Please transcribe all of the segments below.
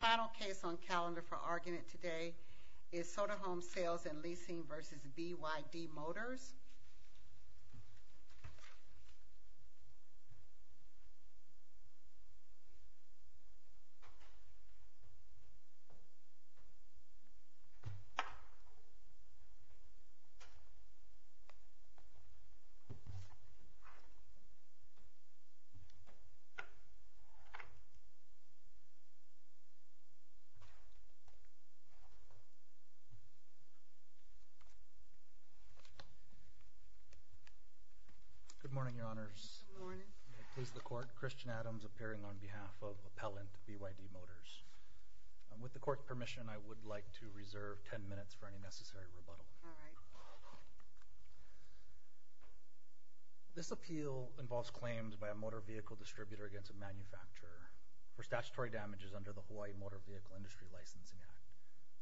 The final case on calendar for argument today is Soderholm Sales & Leasing v. BYD Motors. Good morning, Your Honours. Good morning. It pleases the Court, Christian Adams appearing on behalf of Appellant BYD Motors. With the Court's permission, I would like to reserve ten minutes for any necessary rebuttal. All right. This appeal involves claims by a motor vehicle distributor against a manufacturer for statutory damages under the Hawaii Motor Vehicle Industry Licensing Act,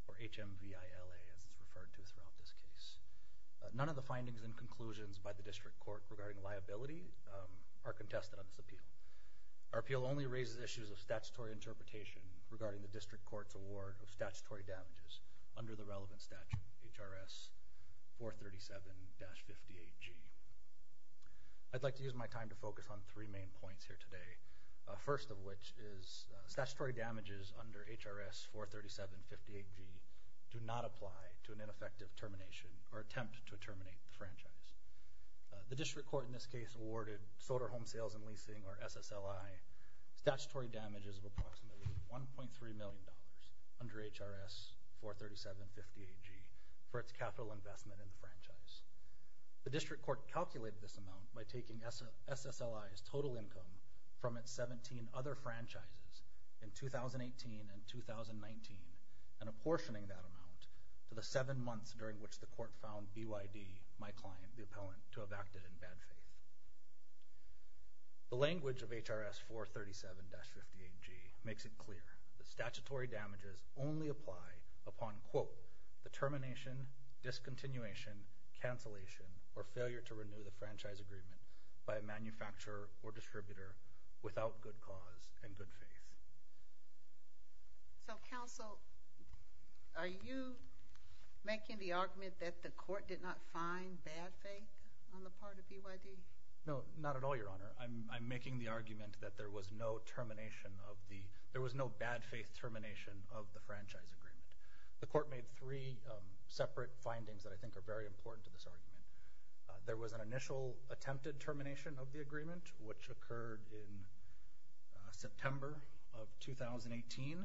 or HMVILA as it's referred to throughout this case. None of the findings and conclusions by the District Court regarding liability are contested on this appeal. Our appeal only raises issues of statutory interpretation regarding the District Court's award of statutory damages under the relevant statute, HRS 437-58G. I'd like to use my time to focus on three main points here today. First of which is statutory damages under HRS 437-58G do not apply to an ineffective termination or attempt to terminate the franchise. The District Court in this case awarded Soderholm Sales & Leasing, or SSLI, statutory damages of approximately $1.3 million under HRS 437-58G for its capital investment in the franchise. The District Court calculated this amount by taking SSLI's total income from its 17 other franchises in 2018 and 2019 and apportioning that amount to the seven months during which the Court found BYD, my client, the appellant, to have acted in bad faith. The language of HRS 437-58G makes it clear that statutory damages only apply upon, quote, the termination, discontinuation, cancellation, or failure to renew the franchise agreement by a manufacturer or distributor without good cause and good faith. So, counsel, are you making the argument that the Court did not find bad faith on the part of BYD? No, not at all, Your Honor. I'm making the argument that there was no bad faith termination of the franchise agreement. The Court made three separate findings that I think are very important to this argument. There was an initial attempted termination of the agreement, which occurred in September of 2018.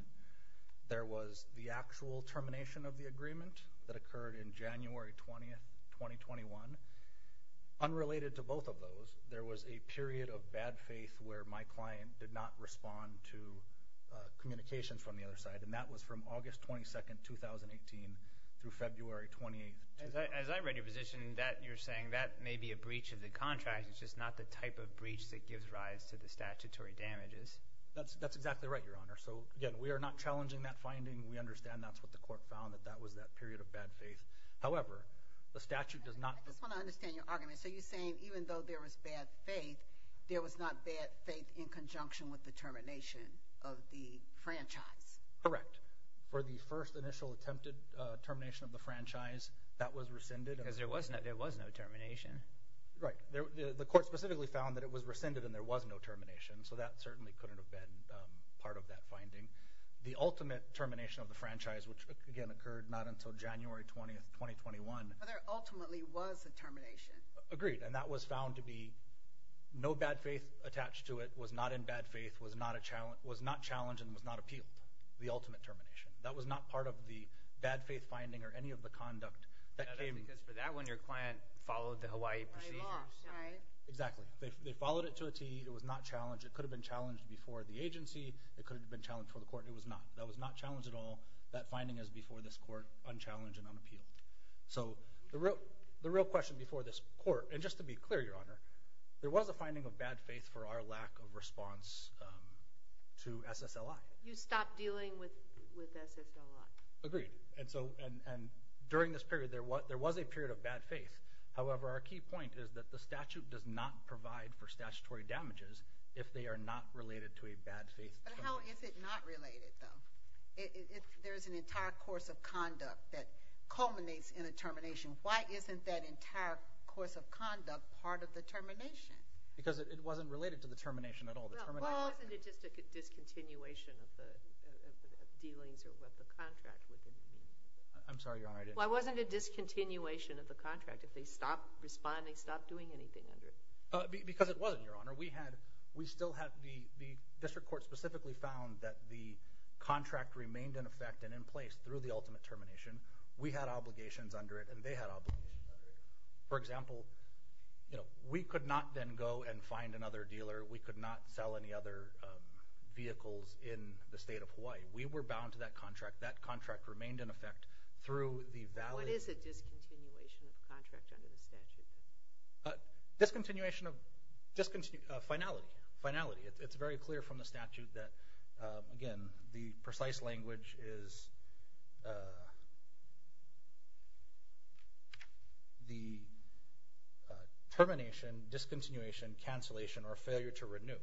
There was the actual termination of the agreement that occurred in January 20, 2021. Unrelated to both of those, there was a period of bad faith where my client did not respond to communications from the other side, and that was from August 22, 2018 through February 28, 2021. As I read your position, you're saying that may be a breach of the contract. It's just not the type of breach that gives rise to the statutory damages. That's exactly right, Your Honor. So, again, we are not challenging that finding. We understand that's what the Court found, that that was that period of bad faith. However, the statute does not – I just want to understand your argument. So you're saying even though there was bad faith, there was not bad faith in conjunction with the termination of the franchise? Correct. For the first initial attempted termination of the franchise, that was rescinded. Because there was no termination. Right. The Court specifically found that it was rescinded and there was no termination, so that certainly couldn't have been part of that finding. The ultimate termination of the franchise, which, again, occurred not until January 20, 2021. But there ultimately was a termination. Agreed, and that was found to be no bad faith attached to it, was not in bad faith, was not challenged, and was not appealed, the ultimate termination. That was not part of the bad faith finding or any of the conduct that came – Because for that one, your client followed the Hawaii law, right? Exactly. They followed it to a T. It was not challenged. It could have been challenged before the agency. It could have been challenged before the Court, and it was not. That was not challenged at all. That finding is before this Court, unchallenged and unappealed. So the real question before this Court, and just to be clear, Your Honor, there was a finding of bad faith for our lack of response to SSLI. You stopped dealing with SSLI. Agreed, and during this period, there was a period of bad faith. However, our key point is that the statute does not provide for statutory damages if they are not related to a bad faith termination. But how is it not related, though? There is an entire course of conduct that culminates in a termination. Why isn't that entire course of conduct part of the termination? Because it wasn't related to the termination at all. Well, wasn't it just a discontinuation of the dealings or what the contract would have been? I'm sorry, Your Honor. Why wasn't it a discontinuation of the contract if they stopped responding, stopped doing anything under it? Because it wasn't, Your Honor. We still have – the District Court specifically found that the contract remained in effect and in place through the ultimate termination. We had obligations under it, and they had obligations under it. For example, we could not then go and find another dealer. We could not sell any other vehicles in the state of Hawaii. We were bound to that contract. That contract remained in effect through the valid – What is a discontinuation of the contract under the statute? Discontinuation of – finality, finality. It's very clear from the statute that, again, the precise language is the termination, discontinuation, cancellation, or failure to renew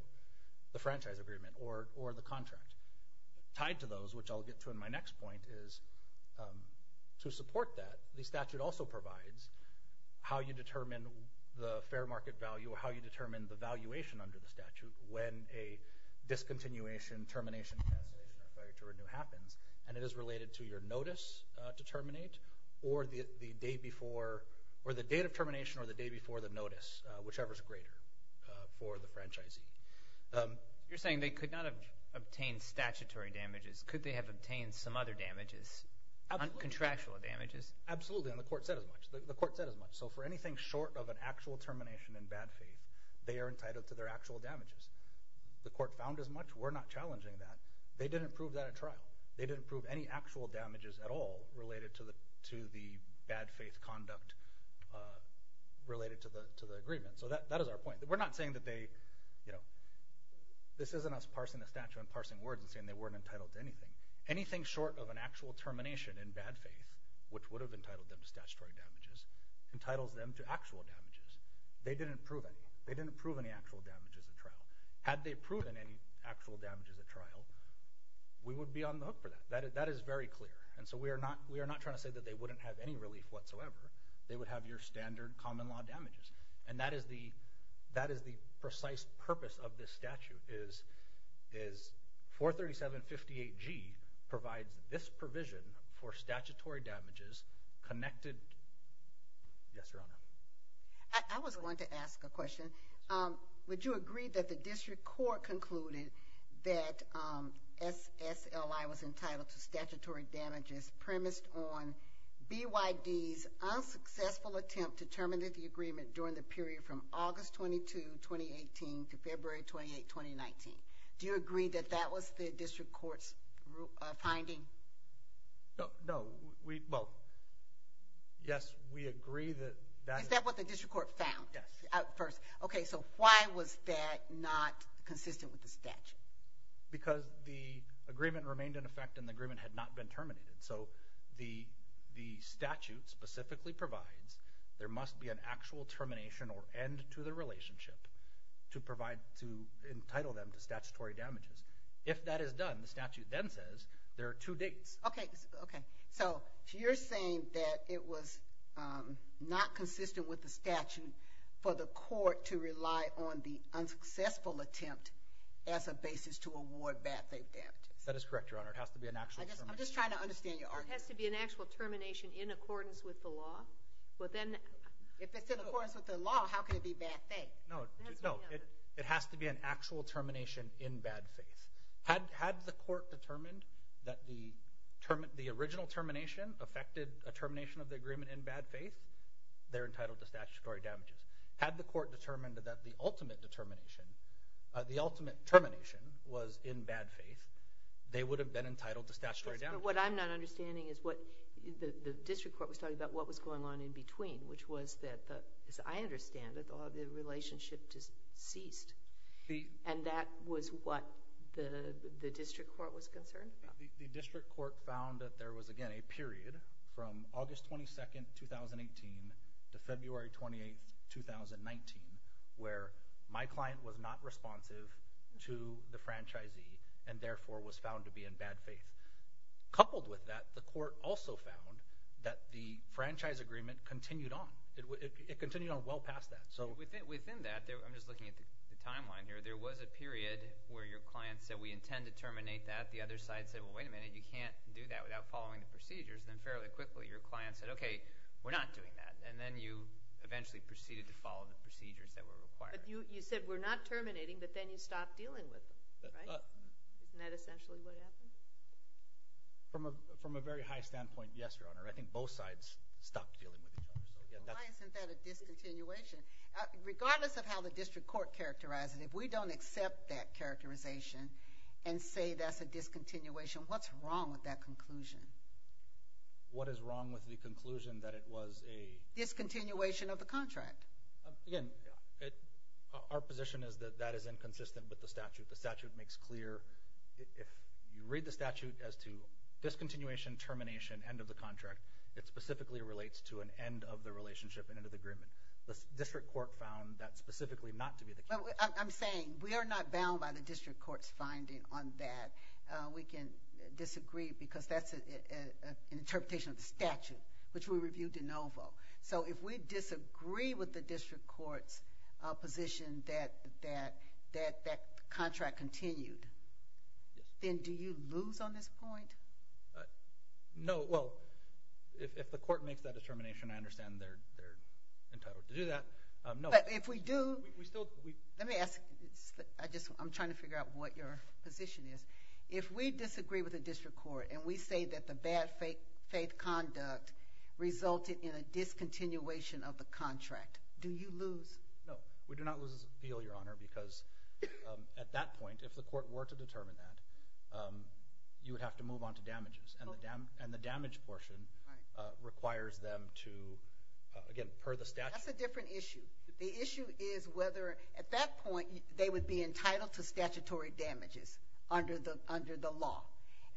the franchise agreement or the contract. Tied to those, which I'll get to in my next point, is to support that, the statute also provides how you determine the fair market value or how you determine the valuation under the statute when a discontinuation, termination, cancellation, or failure to renew happens. And it is related to your notice to terminate or the day before – or the date of termination or the day before the notice, whichever is greater for the franchisee. You're saying they could not have obtained statutory damages. Could they have obtained some other damages, contractual damages? Absolutely, and the court said as much. The court said as much. So for anything short of an actual termination in bad faith, they are entitled to their actual damages. The court found as much. We're not challenging that. They didn't prove that at trial. They didn't prove any actual damages at all related to the bad faith conduct related to the agreement. So that is our point. We're not saying that they – this isn't us parsing the statute and parsing words and saying they weren't entitled to anything. Anything short of an actual termination in bad faith, which would have entitled them to statutory damages, entitles them to actual damages. They didn't prove any. They didn't prove any actual damages at trial. Had they proven any actual damages at trial, we would be on the hook for that. That is very clear. And so we are not trying to say that they wouldn't have any relief whatsoever. They would have your standard common law damages. And that is the precise purpose of this statute is 43758G provides this provision for statutory damages connected. Yes, Your Honor. I was going to ask a question. Would you agree that the district court concluded that SSLI was entitled to statutory damages premised on BYD's unsuccessful attempt to terminate the agreement during the period from August 22, 2018, to February 28, 2019? Do you agree that that was the district court's finding? No. Well, yes, we agree that that is – Is that what the district court found? Yes. Okay. So why was that not consistent with the statute? Because the agreement remained in effect and the agreement had not been terminated. So the statute specifically provides there must be an actual termination or end to the relationship to provide – to entitle them to statutory damages. If that is done, the statute then says there are two dates. Okay. So you're saying that it was not consistent with the statute for the court to rely on the unsuccessful attempt as a basis to award bad faith damages? That is correct, Your Honor. It has to be an actual termination. I'm just trying to understand your argument. It has to be an actual termination in accordance with the law? If it's in accordance with the law, how can it be bad faith? No, it has to be an actual termination in bad faith. Had the court determined that the original termination affected a termination of the agreement in bad faith, they're entitled to statutory damages. Had the court determined that the ultimate termination was in bad faith, they would have been entitled to statutory damages. What I'm not understanding is what – the district court was talking about what was going on in between, which was that, as I understand it, the relationship ceased. And that was what the district court was concerned about? The district court found that there was, again, a period from August 22, 2018 to February 28, 2019, where my client was not responsive to the franchisee and, therefore, was found to be in bad faith. Coupled with that, the court also found that the franchise agreement continued on. It continued on well past that. Within that – I'm just looking at the timeline here. There was a period where your client said, we intend to terminate that. The other side said, well, wait a minute. You can't do that without following the procedures. Then fairly quickly your client said, okay, we're not doing that. And then you eventually proceeded to follow the procedures that were required. But you said we're not terminating, but then you stopped dealing with them, right? Isn't that essentially what happened? From a very high standpoint, yes, Your Honor. I think both sides stopped dealing with each other. Why isn't that a discontinuation? Regardless of how the district court characterized it, if we don't accept that characterization and say that's a discontinuation, what's wrong with that conclusion? What is wrong with the conclusion that it was a – Discontinuation of the contract. Again, our position is that that is inconsistent with the statute. The statute makes clear – if you read the statute as to discontinuation, termination, end of the contract, it specifically relates to an end of the relationship and end of the agreement. The district court found that specifically not to be the case. I'm saying we are not bound by the district court's finding on that. We can disagree because that's an interpretation of the statute, which we reviewed de novo. So if we disagree with the district court's position that that contract continued, then do you lose on this point? No. Well, if the court makes that determination, I understand they're entitled to do that. No. But if we do – We still – Let me ask – I'm trying to figure out what your position is. If we disagree with the district court and we say that the bad faith conduct resulted in a discontinuation of the contract, do you lose? No. We do not lose the appeal, Your Honor, because at that point, if the court were to determine that, you would have to move on to damages. And the damage portion requires them to – again, per the statute. That's a different issue. The issue is whether – at that point, they would be entitled to statutory damages under the law.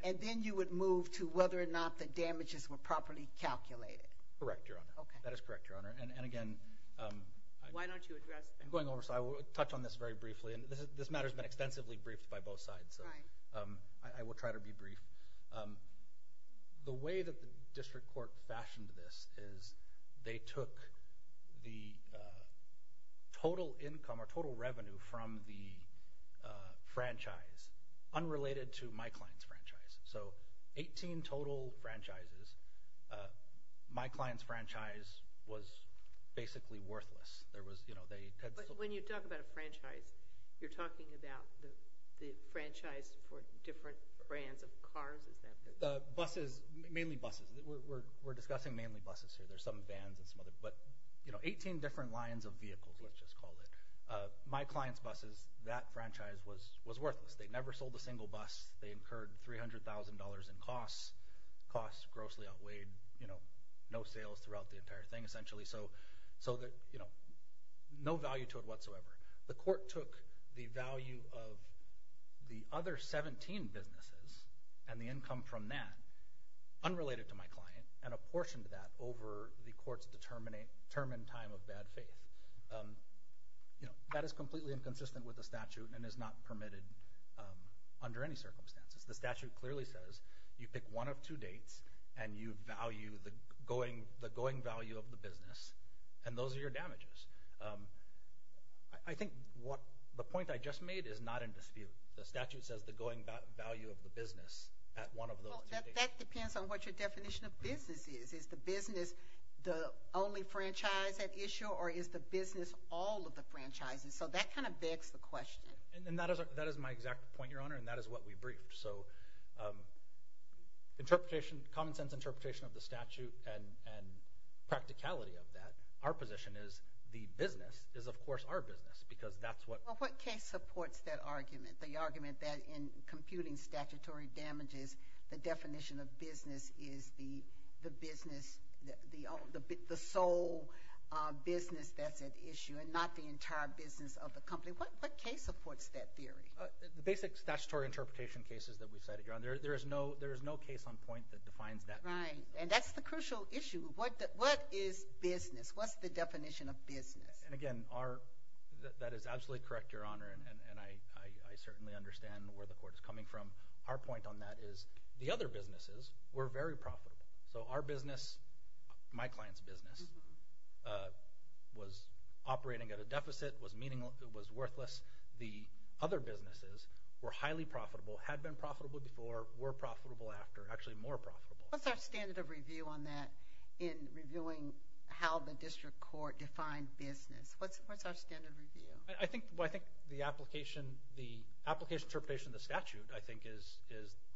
And then you would move to whether or not the damages were properly calculated. Correct, Your Honor. Okay. That is correct, Your Honor. And again – Why don't you address that? I'm going over, so I will touch on this very briefly. And this matter has been extensively briefed by both sides. Right. So I will try to be brief. The way that the district court fashioned this is they took the total income or total revenue from the franchise unrelated to my client's franchise. So 18 total franchises. My client's franchise was basically worthless. But when you talk about a franchise, you're talking about the franchise for different brands of cars. Is that correct? Buses. Mainly buses. We're discussing mainly buses here. There's some vans and some other – but 18 different lines of vehicles, let's just call it. My client's buses, that franchise was worthless. They never sold a single bus. They incurred $300,000 in costs. Costs grossly outweighed. No sales throughout the entire thing, essentially. So no value to it whatsoever. The court took the value of the other 17 businesses and the income from that unrelated to my client and apportioned that over the court's determined time of bad faith. That is completely inconsistent with the statute and is not permitted under any circumstances. The statute clearly says you pick one of two dates and you value the going value of the business, and those are your damages. I think the point I just made is not in dispute. The statute says the going value of the business at one of those two dates. That depends on what your definition of business is. Is the business the only franchise at issue, or is the business all of the franchises? So that kind of begs the question. That is my exact point, Your Honor, and that is what we briefed. So common sense interpretation of the statute and practicality of that. Our position is the business is, of course, our business because that's what— Well, what case supports that argument, the argument that in computing statutory damages, the definition of business is the business, the sole business that's at issue and not the entire business of the company? What case supports that theory? The basic statutory interpretation cases that we've cited, Your Honor. There is no case on point that defines that. Right, and that's the crucial issue. What is business? What's the definition of business? Again, that is absolutely correct, Your Honor, and I certainly understand where the court is coming from. Our point on that is the other businesses were very profitable. So our business, my client's business, was operating at a deficit, was worthless. The other businesses were highly profitable, had been profitable before, were profitable after, actually more profitable. What's our standard of review on that in reviewing how the district court defined business? What's our standard review? I think the application interpretation of the statute, I think, is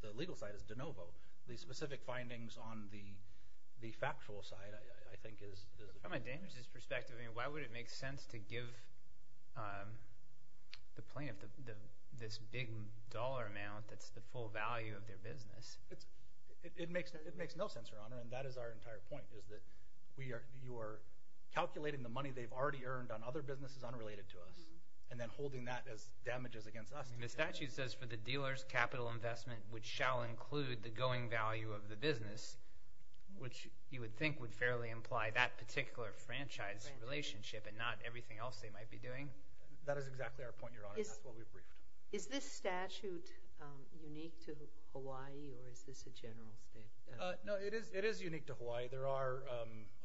the legal side is de novo. The specific findings on the factual side, I think, is the business. From a damages perspective, why would it make sense to give the plaintiff this big dollar amount that's the full value of their business? It makes no sense, Your Honor, and that is our entire point, is that you are calculating the money they've already earned on other businesses unrelated to us and then holding that as damages against us. The statute says for the dealer's capital investment, which shall include the going value of the business, which you would think would fairly imply that particular franchise relationship and not everything else they might be doing. That is exactly our point, Your Honor, and that's what we've briefed. Is this statute unique to Hawaii or is this a general state? No, it is unique to Hawaii. There are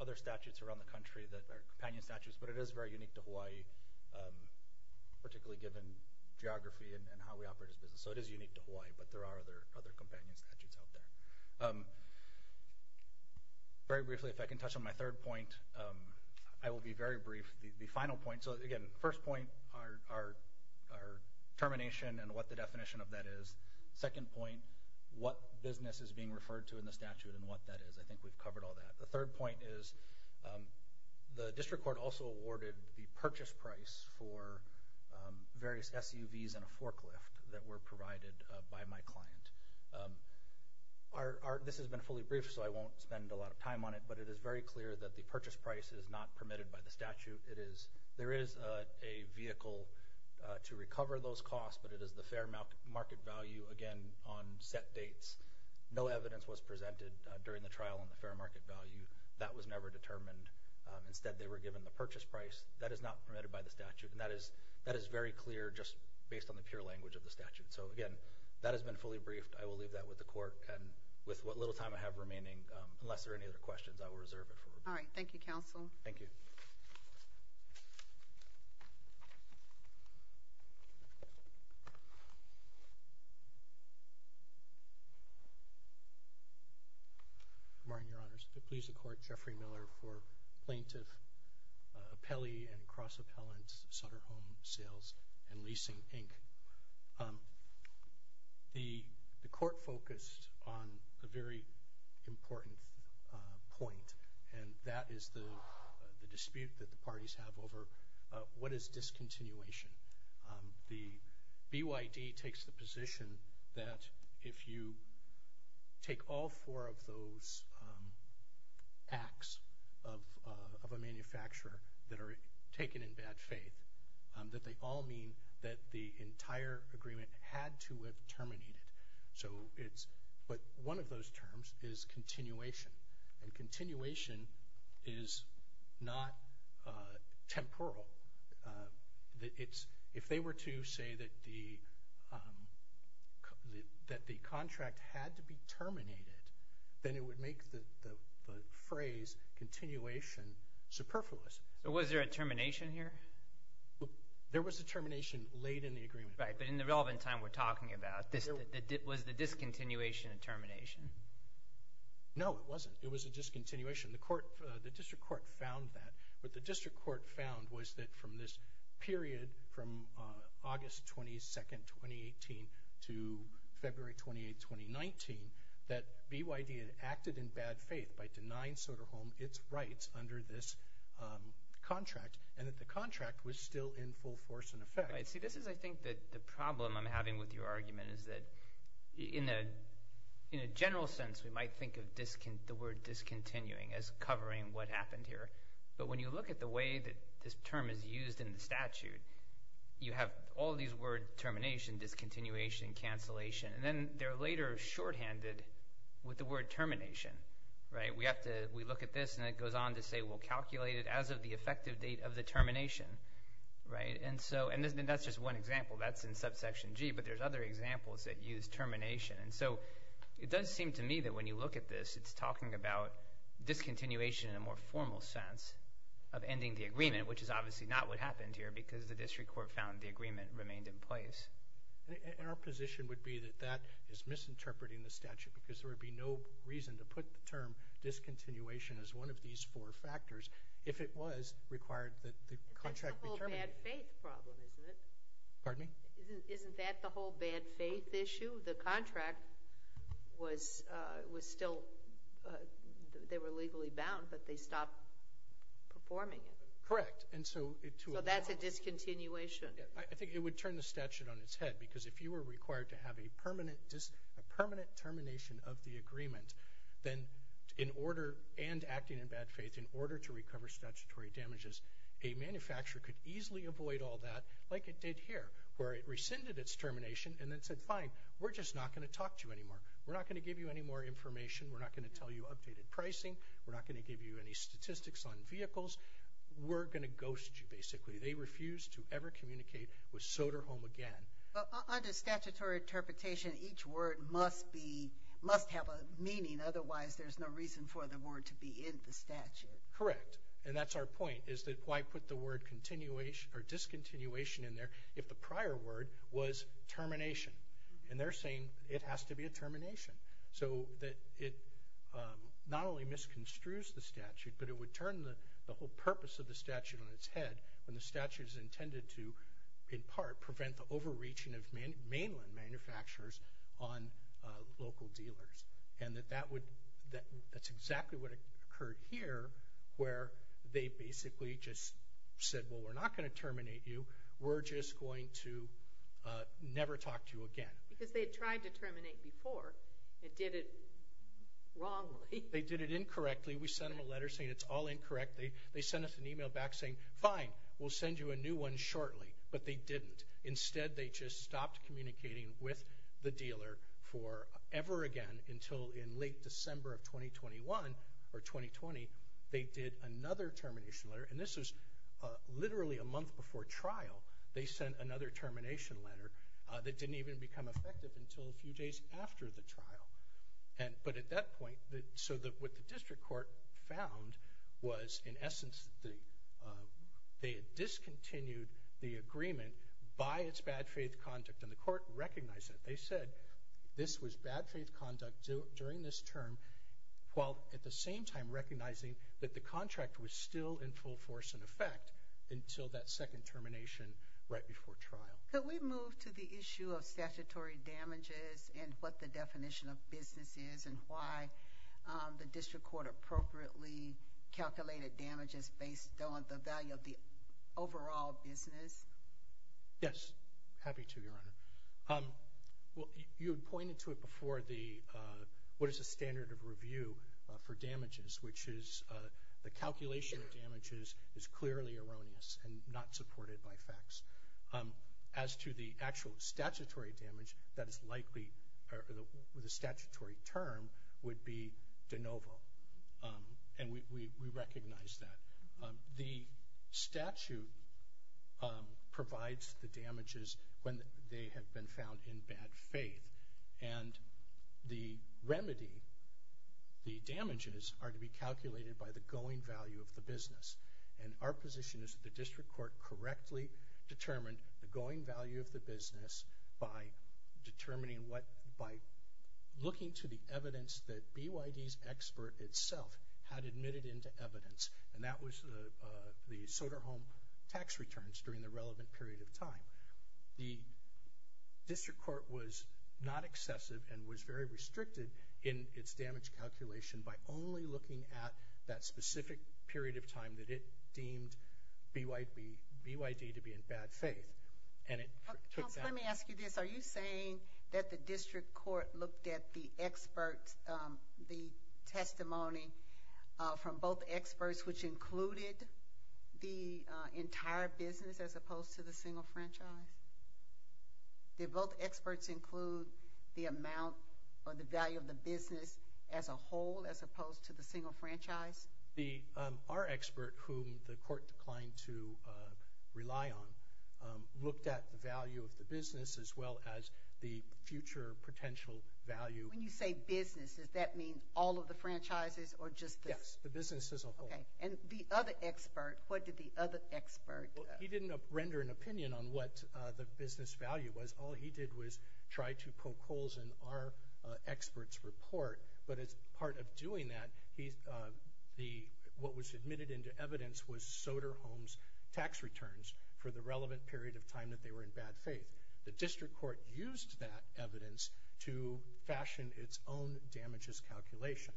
other statutes around the country that are companion statutes, but it is very unique to Hawaii, particularly given geography and how we operate as a business. So it is unique to Hawaii, but there are other companion statutes out there. Very briefly, if I can touch on my third point, I will be very brief. The final point, so, again, first point, our termination and what the definition of that is. Second point, what business is being referred to in the statute and what that is. I think we've covered all that. The third point is the district court also awarded the purchase price for various SUVs and a forklift that were provided by my client. This has been fully briefed, so I won't spend a lot of time on it, but it is very clear that the purchase price is not permitted by the statute. There is a vehicle to recover those costs, but it is the fair market value, again, on set dates. No evidence was presented during the trial on the fair market value. That was never determined. Instead, they were given the purchase price. That is not permitted by the statute, and that is very clear just based on the pure language of the statute. So, again, that has been fully briefed. I will leave that with the court, and with what little time I have remaining, unless there are any other questions, I will reserve it for now. All right. Thank you, Counsel. Thank you. Good morning, Your Honors. To please the Court, Jeffrey Miller for Plaintiff, Appellee, and Cross-Appellant Sutter Home Sales and Leasing, Inc. The court focused on a very important point, and that is the dispute that the parties have over what is discontinuation. The BYD takes the position that if you take all four of those acts of a manufacturer that are taken in bad faith, that they all mean that the entire agreement had to have terminated. But one of those terms is continuation, and continuation is not temporal. If they were to say that the contract had to be terminated, then it would make the phrase continuation superfluous. Was there a termination here? There was a termination late in the agreement. Right, but in the relevant time we're talking about. Was the discontinuation a termination? No, it wasn't. It was a discontinuation. The district court found that. What the district court found was that from this period, from August 22, 2018, to February 28, 2019, that BYD had acted in bad faith by denying Sutter Home its rights under this contract, and that the contract was still in full force in effect. See, this is, I think, the problem I'm having with your argument, is that in a general sense we might think of the word discontinuing as covering what happened here. But when you look at the way that this term is used in the statute, you have all these words termination, discontinuation, cancellation, and then they're later shorthanded with the word termination. We look at this and it goes on to say, well, calculate it as of the effective date of the termination. And that's just one example. That's in subsection G, but there's other examples that use termination. And so it does seem to me that when you look at this, it's talking about discontinuation in a more formal sense of ending the agreement, which is obviously not what happened here because the district court found the agreement remained in place. And our position would be that that is misinterpreting the statute because there would be no reason to put the term discontinuation as one of these four factors if it was required that the contract be terminated. It's a bad faith problem, isn't it? Pardon me? Isn't that the whole bad faith issue? The contract was still – they were legally bound, but they stopped performing it. Correct. So that's a discontinuation. I think it would turn the statute on its head because if you were required to have a permanent termination of the agreement, then in order – and acting in bad faith – in order to recover statutory damages, a manufacturer could easily avoid all that, like it did here, where it rescinded its termination and then said, fine, we're just not going to talk to you anymore. We're not going to give you any more information. We're not going to tell you updated pricing. We're not going to give you any statistics on vehicles. We're going to ghost you, basically. They refused to ever communicate with Soderholm again. Under statutory interpretation, each word must be – must have a meaning. Otherwise, there's no reason for the word to be in the statute. Correct. And that's our point, is that why put the word discontinuation in there if the prior word was termination. And they're saying it has to be a termination, so that it not only misconstrues the statute, but it would turn the whole purpose of the statute on its head when the statute is intended to, in part, prevent the overreaching of mainland manufacturers on local dealers. And that that would – that's exactly what occurred here, where they basically just said, well, we're not going to terminate you. We're just going to never talk to you again. Because they had tried to terminate before and did it wrongly. They did it incorrectly. We sent them a letter saying it's all incorrect. They sent us an email back saying, fine, we'll send you a new one shortly. But they didn't. Instead, they just stopped communicating with the dealer for ever again until in late December of 2021, or 2020, they did another termination letter. And this was literally a month before trial. They sent another termination letter that didn't even become effective until a few days after the trial. But at that point, so what the district court found was, in essence, they had discontinued the agreement by its bad faith conduct. And the court recognized it. They said this was bad faith conduct during this term, while at the same time recognizing that the contract was still in full force and effect until that second termination right before trial. Could we move to the issue of statutory damages and what the definition of business is and why the district court appropriately calculated damages based on the value of the overall business? Happy to, Your Honor. You had pointed to it before, what is the standard of review for damages, which is the calculation of damages is clearly erroneous and not supported by facts. As to the actual statutory damage, that is likely, the statutory term would be de novo. And we recognize that. The statute provides the damages when they have been found in bad faith. And the remedy, the damages are to be calculated by the going value of the business. And our position is that the district court correctly determined the going value of the business by determining what, by looking to the evidence that BYD's expert itself had admitted into evidence. And that was the Soderholm tax returns during the relevant period of time. The district court was not excessive and was very restricted in its damage calculation by only looking at that specific period of time that it deemed BYD to be in bad faith. Counsel, let me ask you this. Are you saying that the district court looked at the experts, the testimony from both experts, which included the entire business as opposed to the single franchise? Did both experts include the amount or the value of the business as a whole, as opposed to the single franchise? Our expert, whom the court declined to rely on, looked at the value of the business as well as the future potential value. When you say business, does that mean all of the franchises or just this? Yes, the business as a whole. And the other expert, what did the other expert do? He didn't render an opinion on what the business value was. All he did was try to poke holes in our expert's report. But as part of doing that, what was admitted into evidence was Soderholm's tax returns for the relevant period of time that they were in bad faith. The district court used that evidence to fashion its own damages calculation.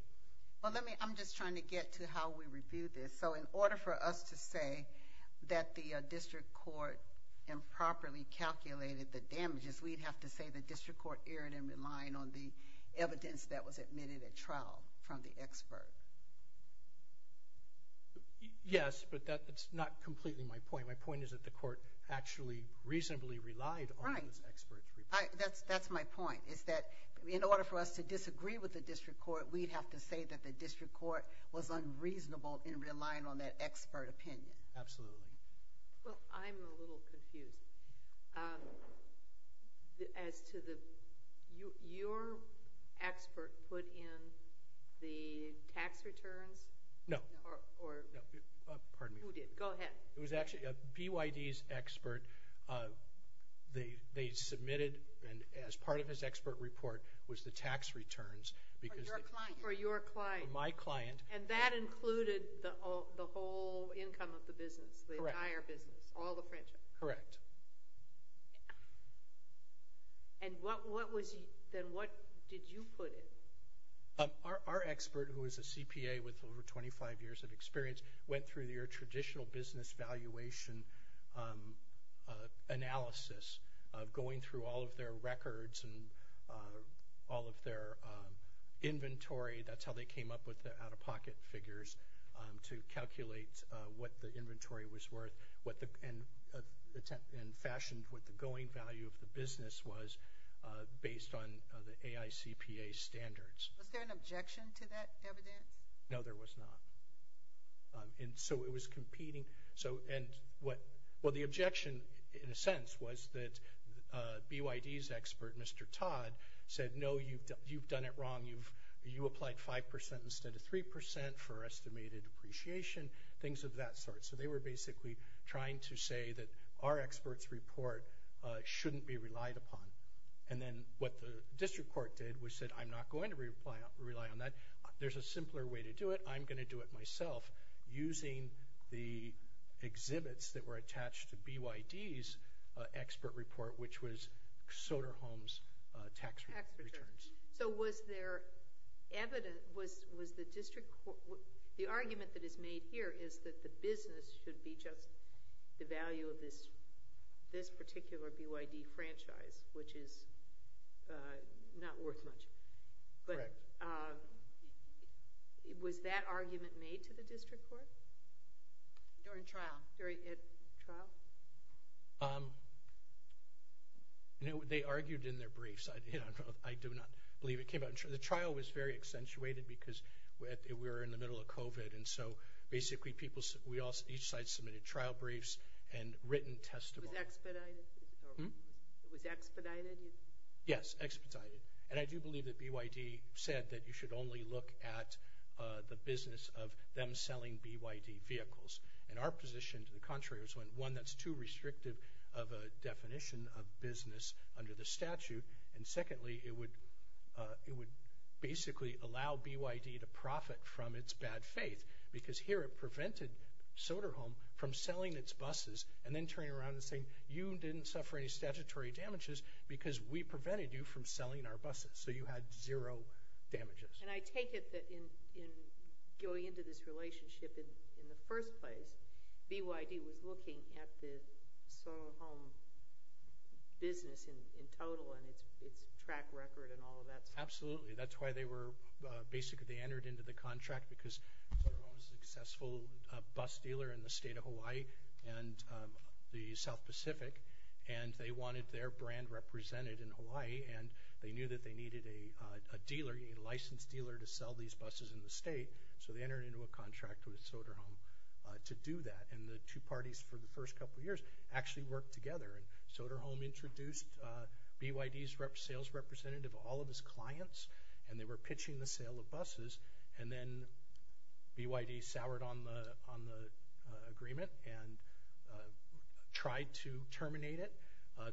I'm just trying to get to how we review this. In order for us to say that the district court improperly calculated the damages, we'd have to say the district court erred in relying on the evidence that was admitted at trial from the expert. Yes, but that's not completely my point. My point is that the court actually reasonably relied on this expert's report. That's my point, is that in order for us to disagree with the district court, we'd have to say that the district court was unreasonable in relying on that expert opinion. Absolutely. Well, I'm a little confused. As to your expert put in the tax returns? No. Go ahead. It was actually BYD's expert. They submitted, and as part of his expert report, was the tax returns. For your client. For my client. And that included the whole income of the business, the entire business, all the franchise? Correct. Then what did you put in? Our expert, who is a CPA with over 25 years of experience, went through your traditional business valuation analysis, going through all of their records and all of their inventory. That's how they came up with the out-of-pocket figures to calculate what the inventory was worth and fashioned what the going value of the business was, based on the AICPA standards. Was there an objection to that evidence? No, there was not. So it was competing. Well, the objection, in a sense, was that BYD's expert, Mr. Todd, said, no, you've done it wrong. You applied 5% instead of 3% for estimated appreciation, things of that sort. So they were basically trying to say that our expert's report shouldn't be relied upon. And then what the district court did was said, I'm not going to rely on that. There's a simpler way to do it. I'm going to do it myself, using the exhibits that were attached to BYD's expert report, which was Soderholm's tax returns. So was there evidence—the argument that is made here is that the business should be just the value of this particular BYD franchise, which is not worth much. Correct. Was that argument made to the district court? During trial. During trial? No, they argued in their briefs. I do not believe it came out. The trial was very accentuated because we were in the middle of COVID, and so basically each side submitted trial briefs and written testimonies. It was expedited? Yes, expedited. And I do believe that BYD said that you should only look at the business of them selling BYD vehicles. And our position, to the contrary, is one that's too restrictive of a definition of business under the statute. And secondly, it would basically allow BYD to profit from its bad faith because here it prevented Soderholm from selling its buses and then turning around and saying, you didn't suffer any statutory damages because we prevented you from selling our buses. So you had zero damages. And I take it that in going into this relationship in the first place, BYD was looking at the Soderholm business in total and its track record and all of that stuff. Absolutely. That's why they were basically entered into the contract because Soderholm was a successful bus dealer in the state of Hawaii and the South Pacific, and they wanted their brand represented in Hawaii, and they knew that they needed a dealer, a licensed dealer, to sell these buses in the state. So they entered into a contract with Soderholm to do that, and the two parties for the first couple of years actually worked together. Soderholm introduced BYD's sales representative to all of his clients, and they were pitching the sale of buses, and then BYD soured on the agreement and tried to terminate it.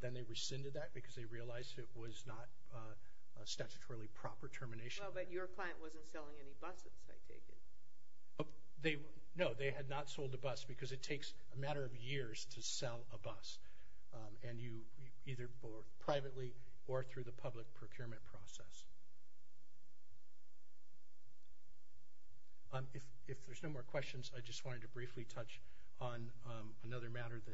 Then they rescinded that because they realized it was not a statutorily proper termination. Well, but your client wasn't selling any buses, I take it. No, they had not sold a bus because it takes a matter of years to sell a bus, either privately or through the public procurement process. If there's no more questions, I just wanted to briefly touch on another matter that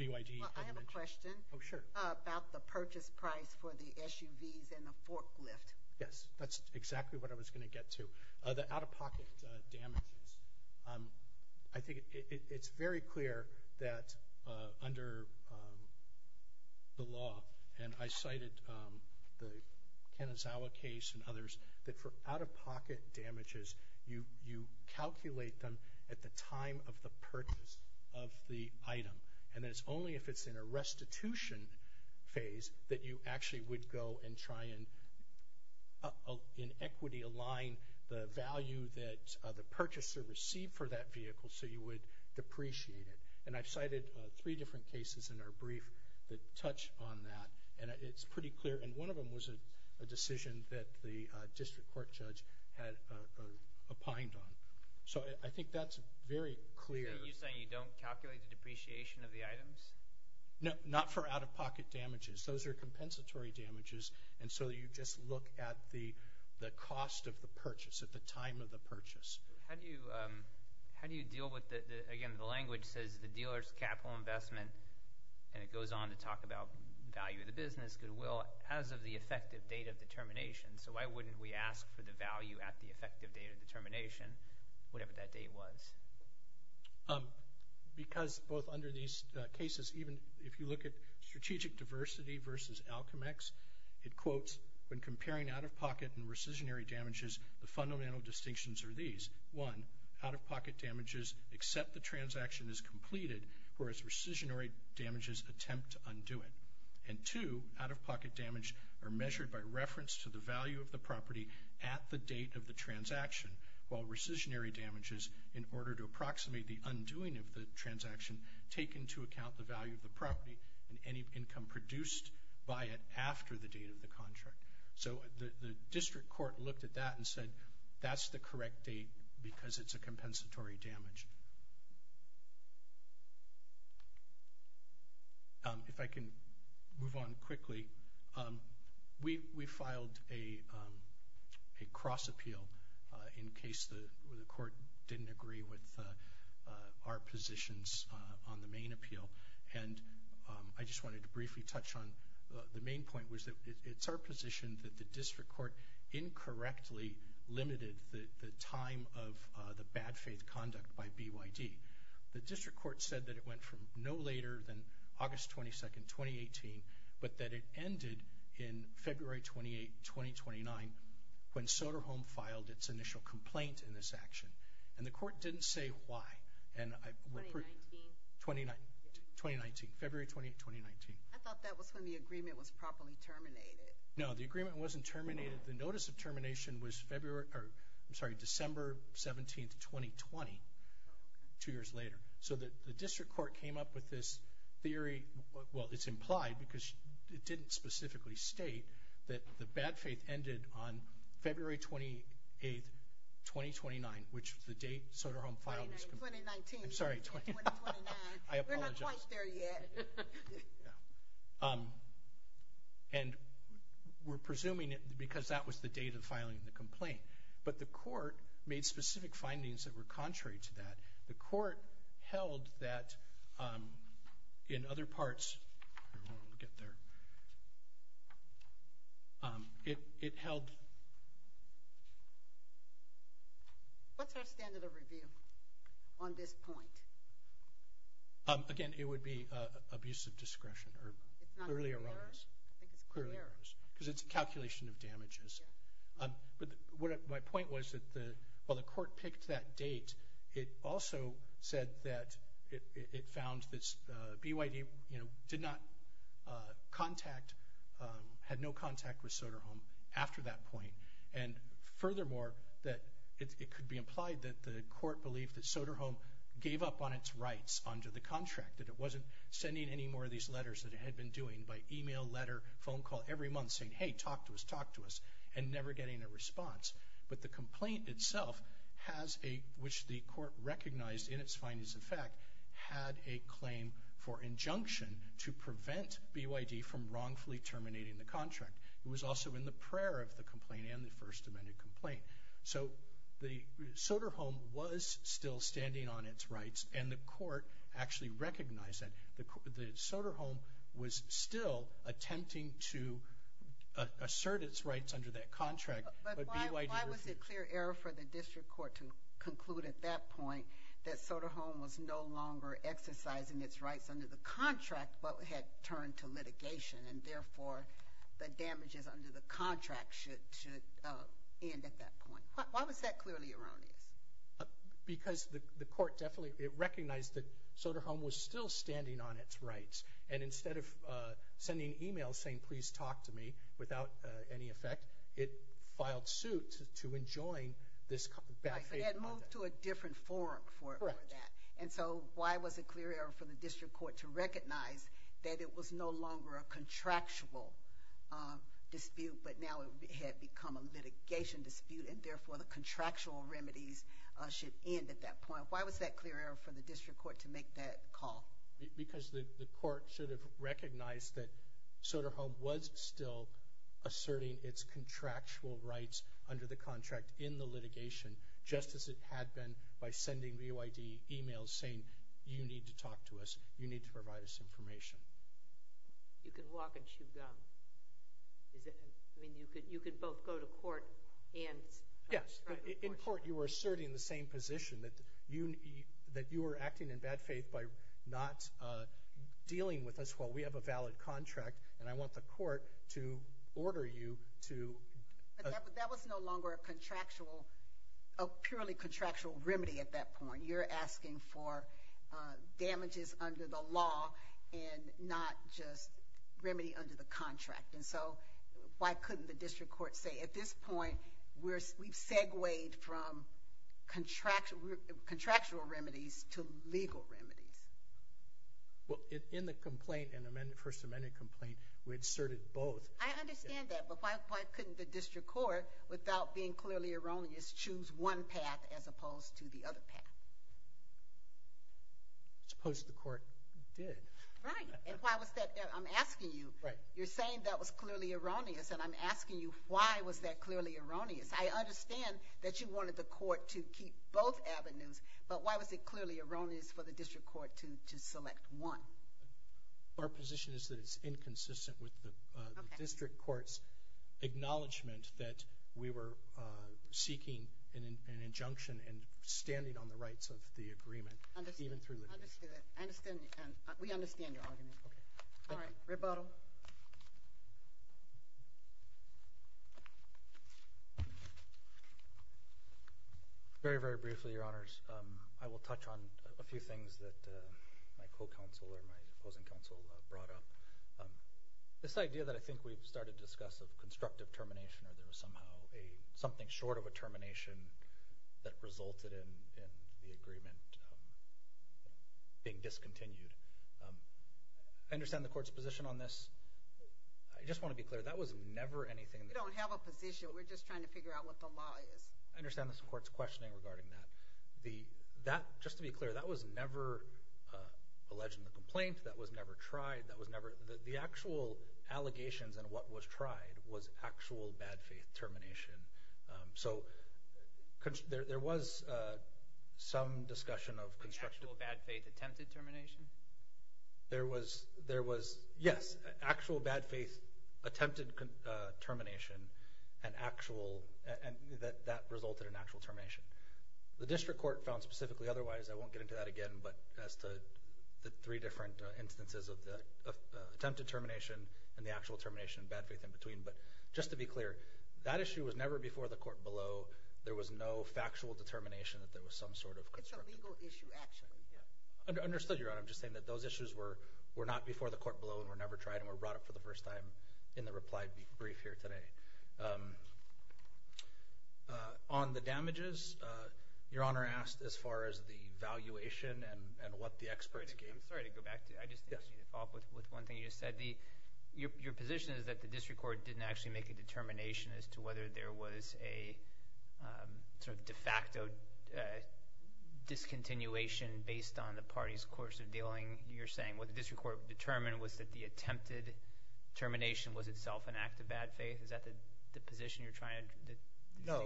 BYD had to mention. Well, I have a question. Oh, sure. About the purchase price for the SUVs and the forklift. Yes, that's exactly what I was going to get to. The out-of-pocket damages. I think it's very clear that under the law, and I cited the Kanazawa case and others, that for out-of-pocket damages, you calculate them at the time of the purchase of the item, and that it's only if it's in a restitution phase that you actually would go and try and in equity align the value that the purchaser received for that vehicle so you would depreciate it. And I've cited three different cases in our brief that touch on that, and one of them was a decision that the district court judge had opined on. So I think that's very clear. You're saying you don't calculate the depreciation of the items? No, not for out-of-pocket damages. Those are compensatory damages, and so you just look at the cost of the purchase at the time of the purchase. How do you deal with the, again, the language says the dealer's capital investment, and it goes on to talk about value of the business, goodwill, as of the effective date of determination. So why wouldn't we ask for the value at the effective date of determination, whatever that date was? Because both under these cases, even if you look at strategic diversity versus Alcomex, it quotes, when comparing out-of-pocket and rescissionary damages, the fundamental distinctions are these. One, out-of-pocket damages, except the transaction is completed, whereas rescissionary damages attempt to undo it. And two, out-of-pocket damage are measured by reference to the value of the property at the date of the transaction, while rescissionary damages, in order to approximate the undoing of the transaction, take into account the value of the property and any income produced by it after the date of the contract. So the district court looked at that and said, that's the correct date because it's a compensatory damage. If I can move on quickly, we filed a cross-appeal in case the court didn't agree with our positions on the main appeal, and I just wanted to briefly touch on the main point, which was that it's our position that the district court incorrectly limited the time of the bad faith conduct by BYD. The district court said that it went from no later than August 22, 2018, but that it ended in February 28, 2029, when Soderholm filed its initial complaint in this action. And the court didn't say why. 2019? 2019. February 28, 2019. I thought that was when the agreement was properly terminated. No, the agreement wasn't terminated. The notice of termination was December 17, 2020, two years later. So the district court came up with this theory. Well, it's implied because it didn't specifically state that the bad faith ended on February 28, 2029, which is the date Soderholm filed his complaint. 2019. I'm sorry. 2029. I apologize. We're not quite there yet. And we're presuming it because that was the date of filing the complaint. But the court made specific findings that were contrary to that. The court held that in other parts, we'll get there. It held. What's our standard of review on this point? Again, it would be abuse of discretion or clearly erroneous. I think it's clearly erroneous. Because it's a calculation of damages. My point was that while the court picked that date, it also said that it found that BYD did not contact, had no contact with Soderholm after that point. And furthermore, it could be implied that the court believed that Soderholm gave up on its rights under the contract, that it wasn't sending any more of these letters than it had been doing by email, letter, phone call every month saying, hey, talk to us, talk to us. And never getting a response. But the complaint itself, which the court recognized in its findings of fact, had a claim for injunction to prevent BYD from wrongfully terminating the contract. It was also in the prayer of the complaint and the First Amendment complaint. So Soderholm was still standing on its rights, and the court actually recognized that. The Soderholm was still attempting to assert its rights under that contract. But why was it clear error for the district court to conclude at that point that Soderholm was no longer exercising its rights under the contract, but had turned to litigation, and therefore the damages under the contract should end at that point? Why was that clearly erroneous? Because the court recognized that Soderholm was still standing on its rights, and instead of sending emails saying, please talk to me, without any effect, it filed suit to enjoin this bad behavior. It had moved to a different forum for that. Correct. And so why was it clear error for the district court to recognize that it was no longer a contractual dispute, but now it had become a litigation dispute, and therefore the contractual remedies should end at that point? Why was that clear error for the district court to make that call? Because the court should have recognized that Soderholm was still asserting its contractual rights under the contract in the litigation, just as it had been by sending BYD emails saying, you need to talk to us, you need to provide us information. You can walk and chew gum. I mean, you could both go to court and start the courtship. Yes, but in court you were asserting the same position, that you were acting in bad faith by not dealing with us while we have a valid contract, and I want the court to order you to— But that was no longer a purely contractual remedy at that point. You're asking for damages under the law and not just remedy under the contract. And so why couldn't the district court say, at this point, we've segued from contractual remedies to legal remedies? Well, in the complaint, in the first amendment complaint, we inserted both. I understand that, but why couldn't the district court, without being clearly erroneous, choose one path as opposed to the other path? I suppose the court did. Right, and why was that—I'm asking you. You're saying that was clearly erroneous, and I'm asking you why was that clearly erroneous. I understand that you wanted the court to keep both avenues, but why was it clearly erroneous for the district court to select one? Our position is that it's inconsistent with the district court's acknowledgement that we were seeking an injunction and standing on the rights of the agreement, even through litigation. I understand. We understand your argument. All right, rebuttal. Very, very briefly, Your Honors. I will touch on a few things that my co-counsel or my opposing counsel brought up. This idea that I think we've started to discuss of constructive termination or there was somehow something short of a termination that resulted in the agreement being discontinued. I understand the court's position on this. I just want to be clear, that was never anything— We don't have a position. We're just trying to figure out what the law is. I understand the court's questioning regarding that. Just to be clear, that was never alleged in the complaint. That was never tried. The actual allegations and what was tried was actual bad faith termination. So there was some discussion of constructive— Actual bad faith attempted termination? Yes, actual bad faith attempted termination and that resulted in actual termination. The district court found specifically otherwise. I won't get into that again, but as to the three different instances of attempted termination and the actual termination and bad faith in between. But just to be clear, that issue was never before the court below. There was no factual determination that there was some sort of constructive— It's a legal issue, actually. I understood, Your Honor. I'm just saying that those issues were not before the court below and were never tried and were brought up for the first time in the reply brief here today. On the damages, Your Honor asked as far as the valuation and what the experts gave. I'm sorry to go back to you. I just need to follow up with one thing you just said. Your position is that the district court didn't actually make a determination as to whether there was a sort of de facto discontinuation based on the party's course of dealing. You're saying what the district court determined was that the attempted termination was itself an act of bad faith. Is that the position you're trying to make? No.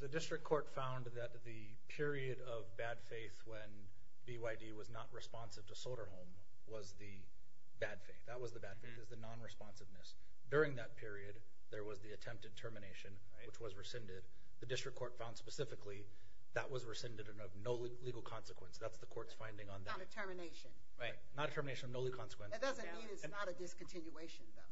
The district court found that the period of bad faith when BYD was not responsive to Soderholm was the bad faith. That was the bad faith. It was the non-responsiveness. During that period, there was the attempted termination, which was rescinded. The district court found specifically that was rescinded and of no legal consequence. That's the court's finding on that. Not a termination. Right. Not a termination of no legal consequence. It doesn't mean it's not a discontinuation, though.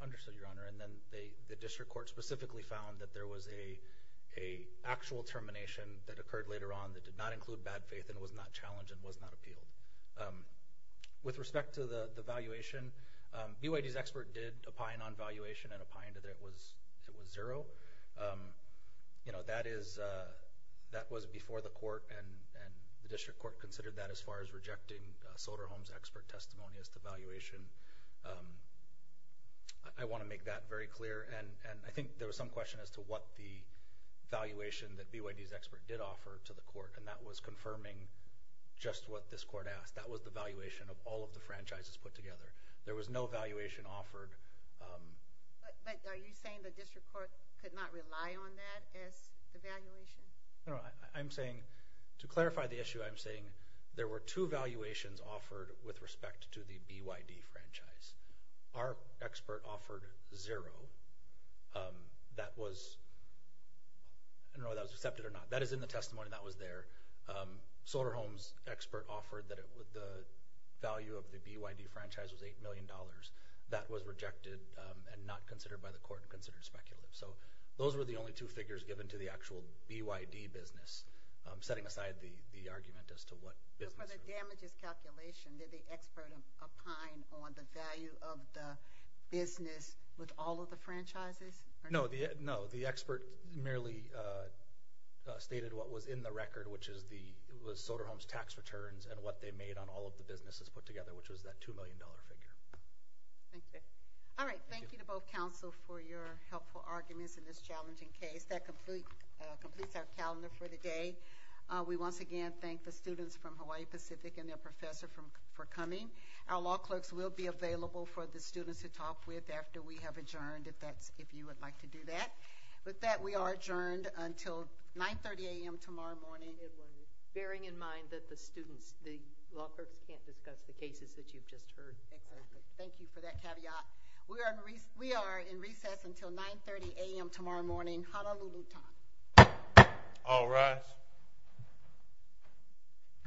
Understood, Your Honor. Then the district court specifically found that there was an actual termination that occurred later on that did not include bad faith and was not challenged and was not appealed. With respect to the valuation, BYD's expert did opine on valuation and opined that it was zero. That was before the court, and the district court considered that as far as rejecting Soderholm's expert testimony as to valuation. I want to make that very clear, and I think there was some question as to what the valuation that BYD's expert did offer to the court, and that was confirming just what this court asked. That was the valuation of all of the franchises put together. There was no valuation offered. But are you saying the district court could not rely on that as the valuation? No, I'm saying to clarify the issue, I'm saying there were two valuations offered with respect to the BYD franchise. Our expert offered zero. I don't know whether that was accepted or not. That is in the testimony that was there. Soderholm's expert offered that the value of the BYD franchise was $8 million. That was rejected and not considered by the court and considered speculative. So those were the only two figures given to the actual BYD business, setting aside the argument as to what business. Just for the damages calculation, did the expert opine on the value of the business with all of the franchises? No, the expert merely stated what was in the record, which was Soderholm's tax returns and what they made on all of the businesses put together, which was that $2 million figure. Thank you. All right, thank you to both counsel for your helpful arguments in this challenging case. That completes our calendar for the day. We once again thank the students from Hawaii Pacific and their professor for coming. Our law clerks will be available for the students to talk with after we have adjourned, if you would like to do that. With that, we are adjourned until 9.30 a.m. tomorrow morning. Bearing in mind that the students, the law clerks, can't discuss the cases that you've just heard. Thank you for that caveat. We are in recess until 9.30 a.m. tomorrow morning. Honolulu time. All rise.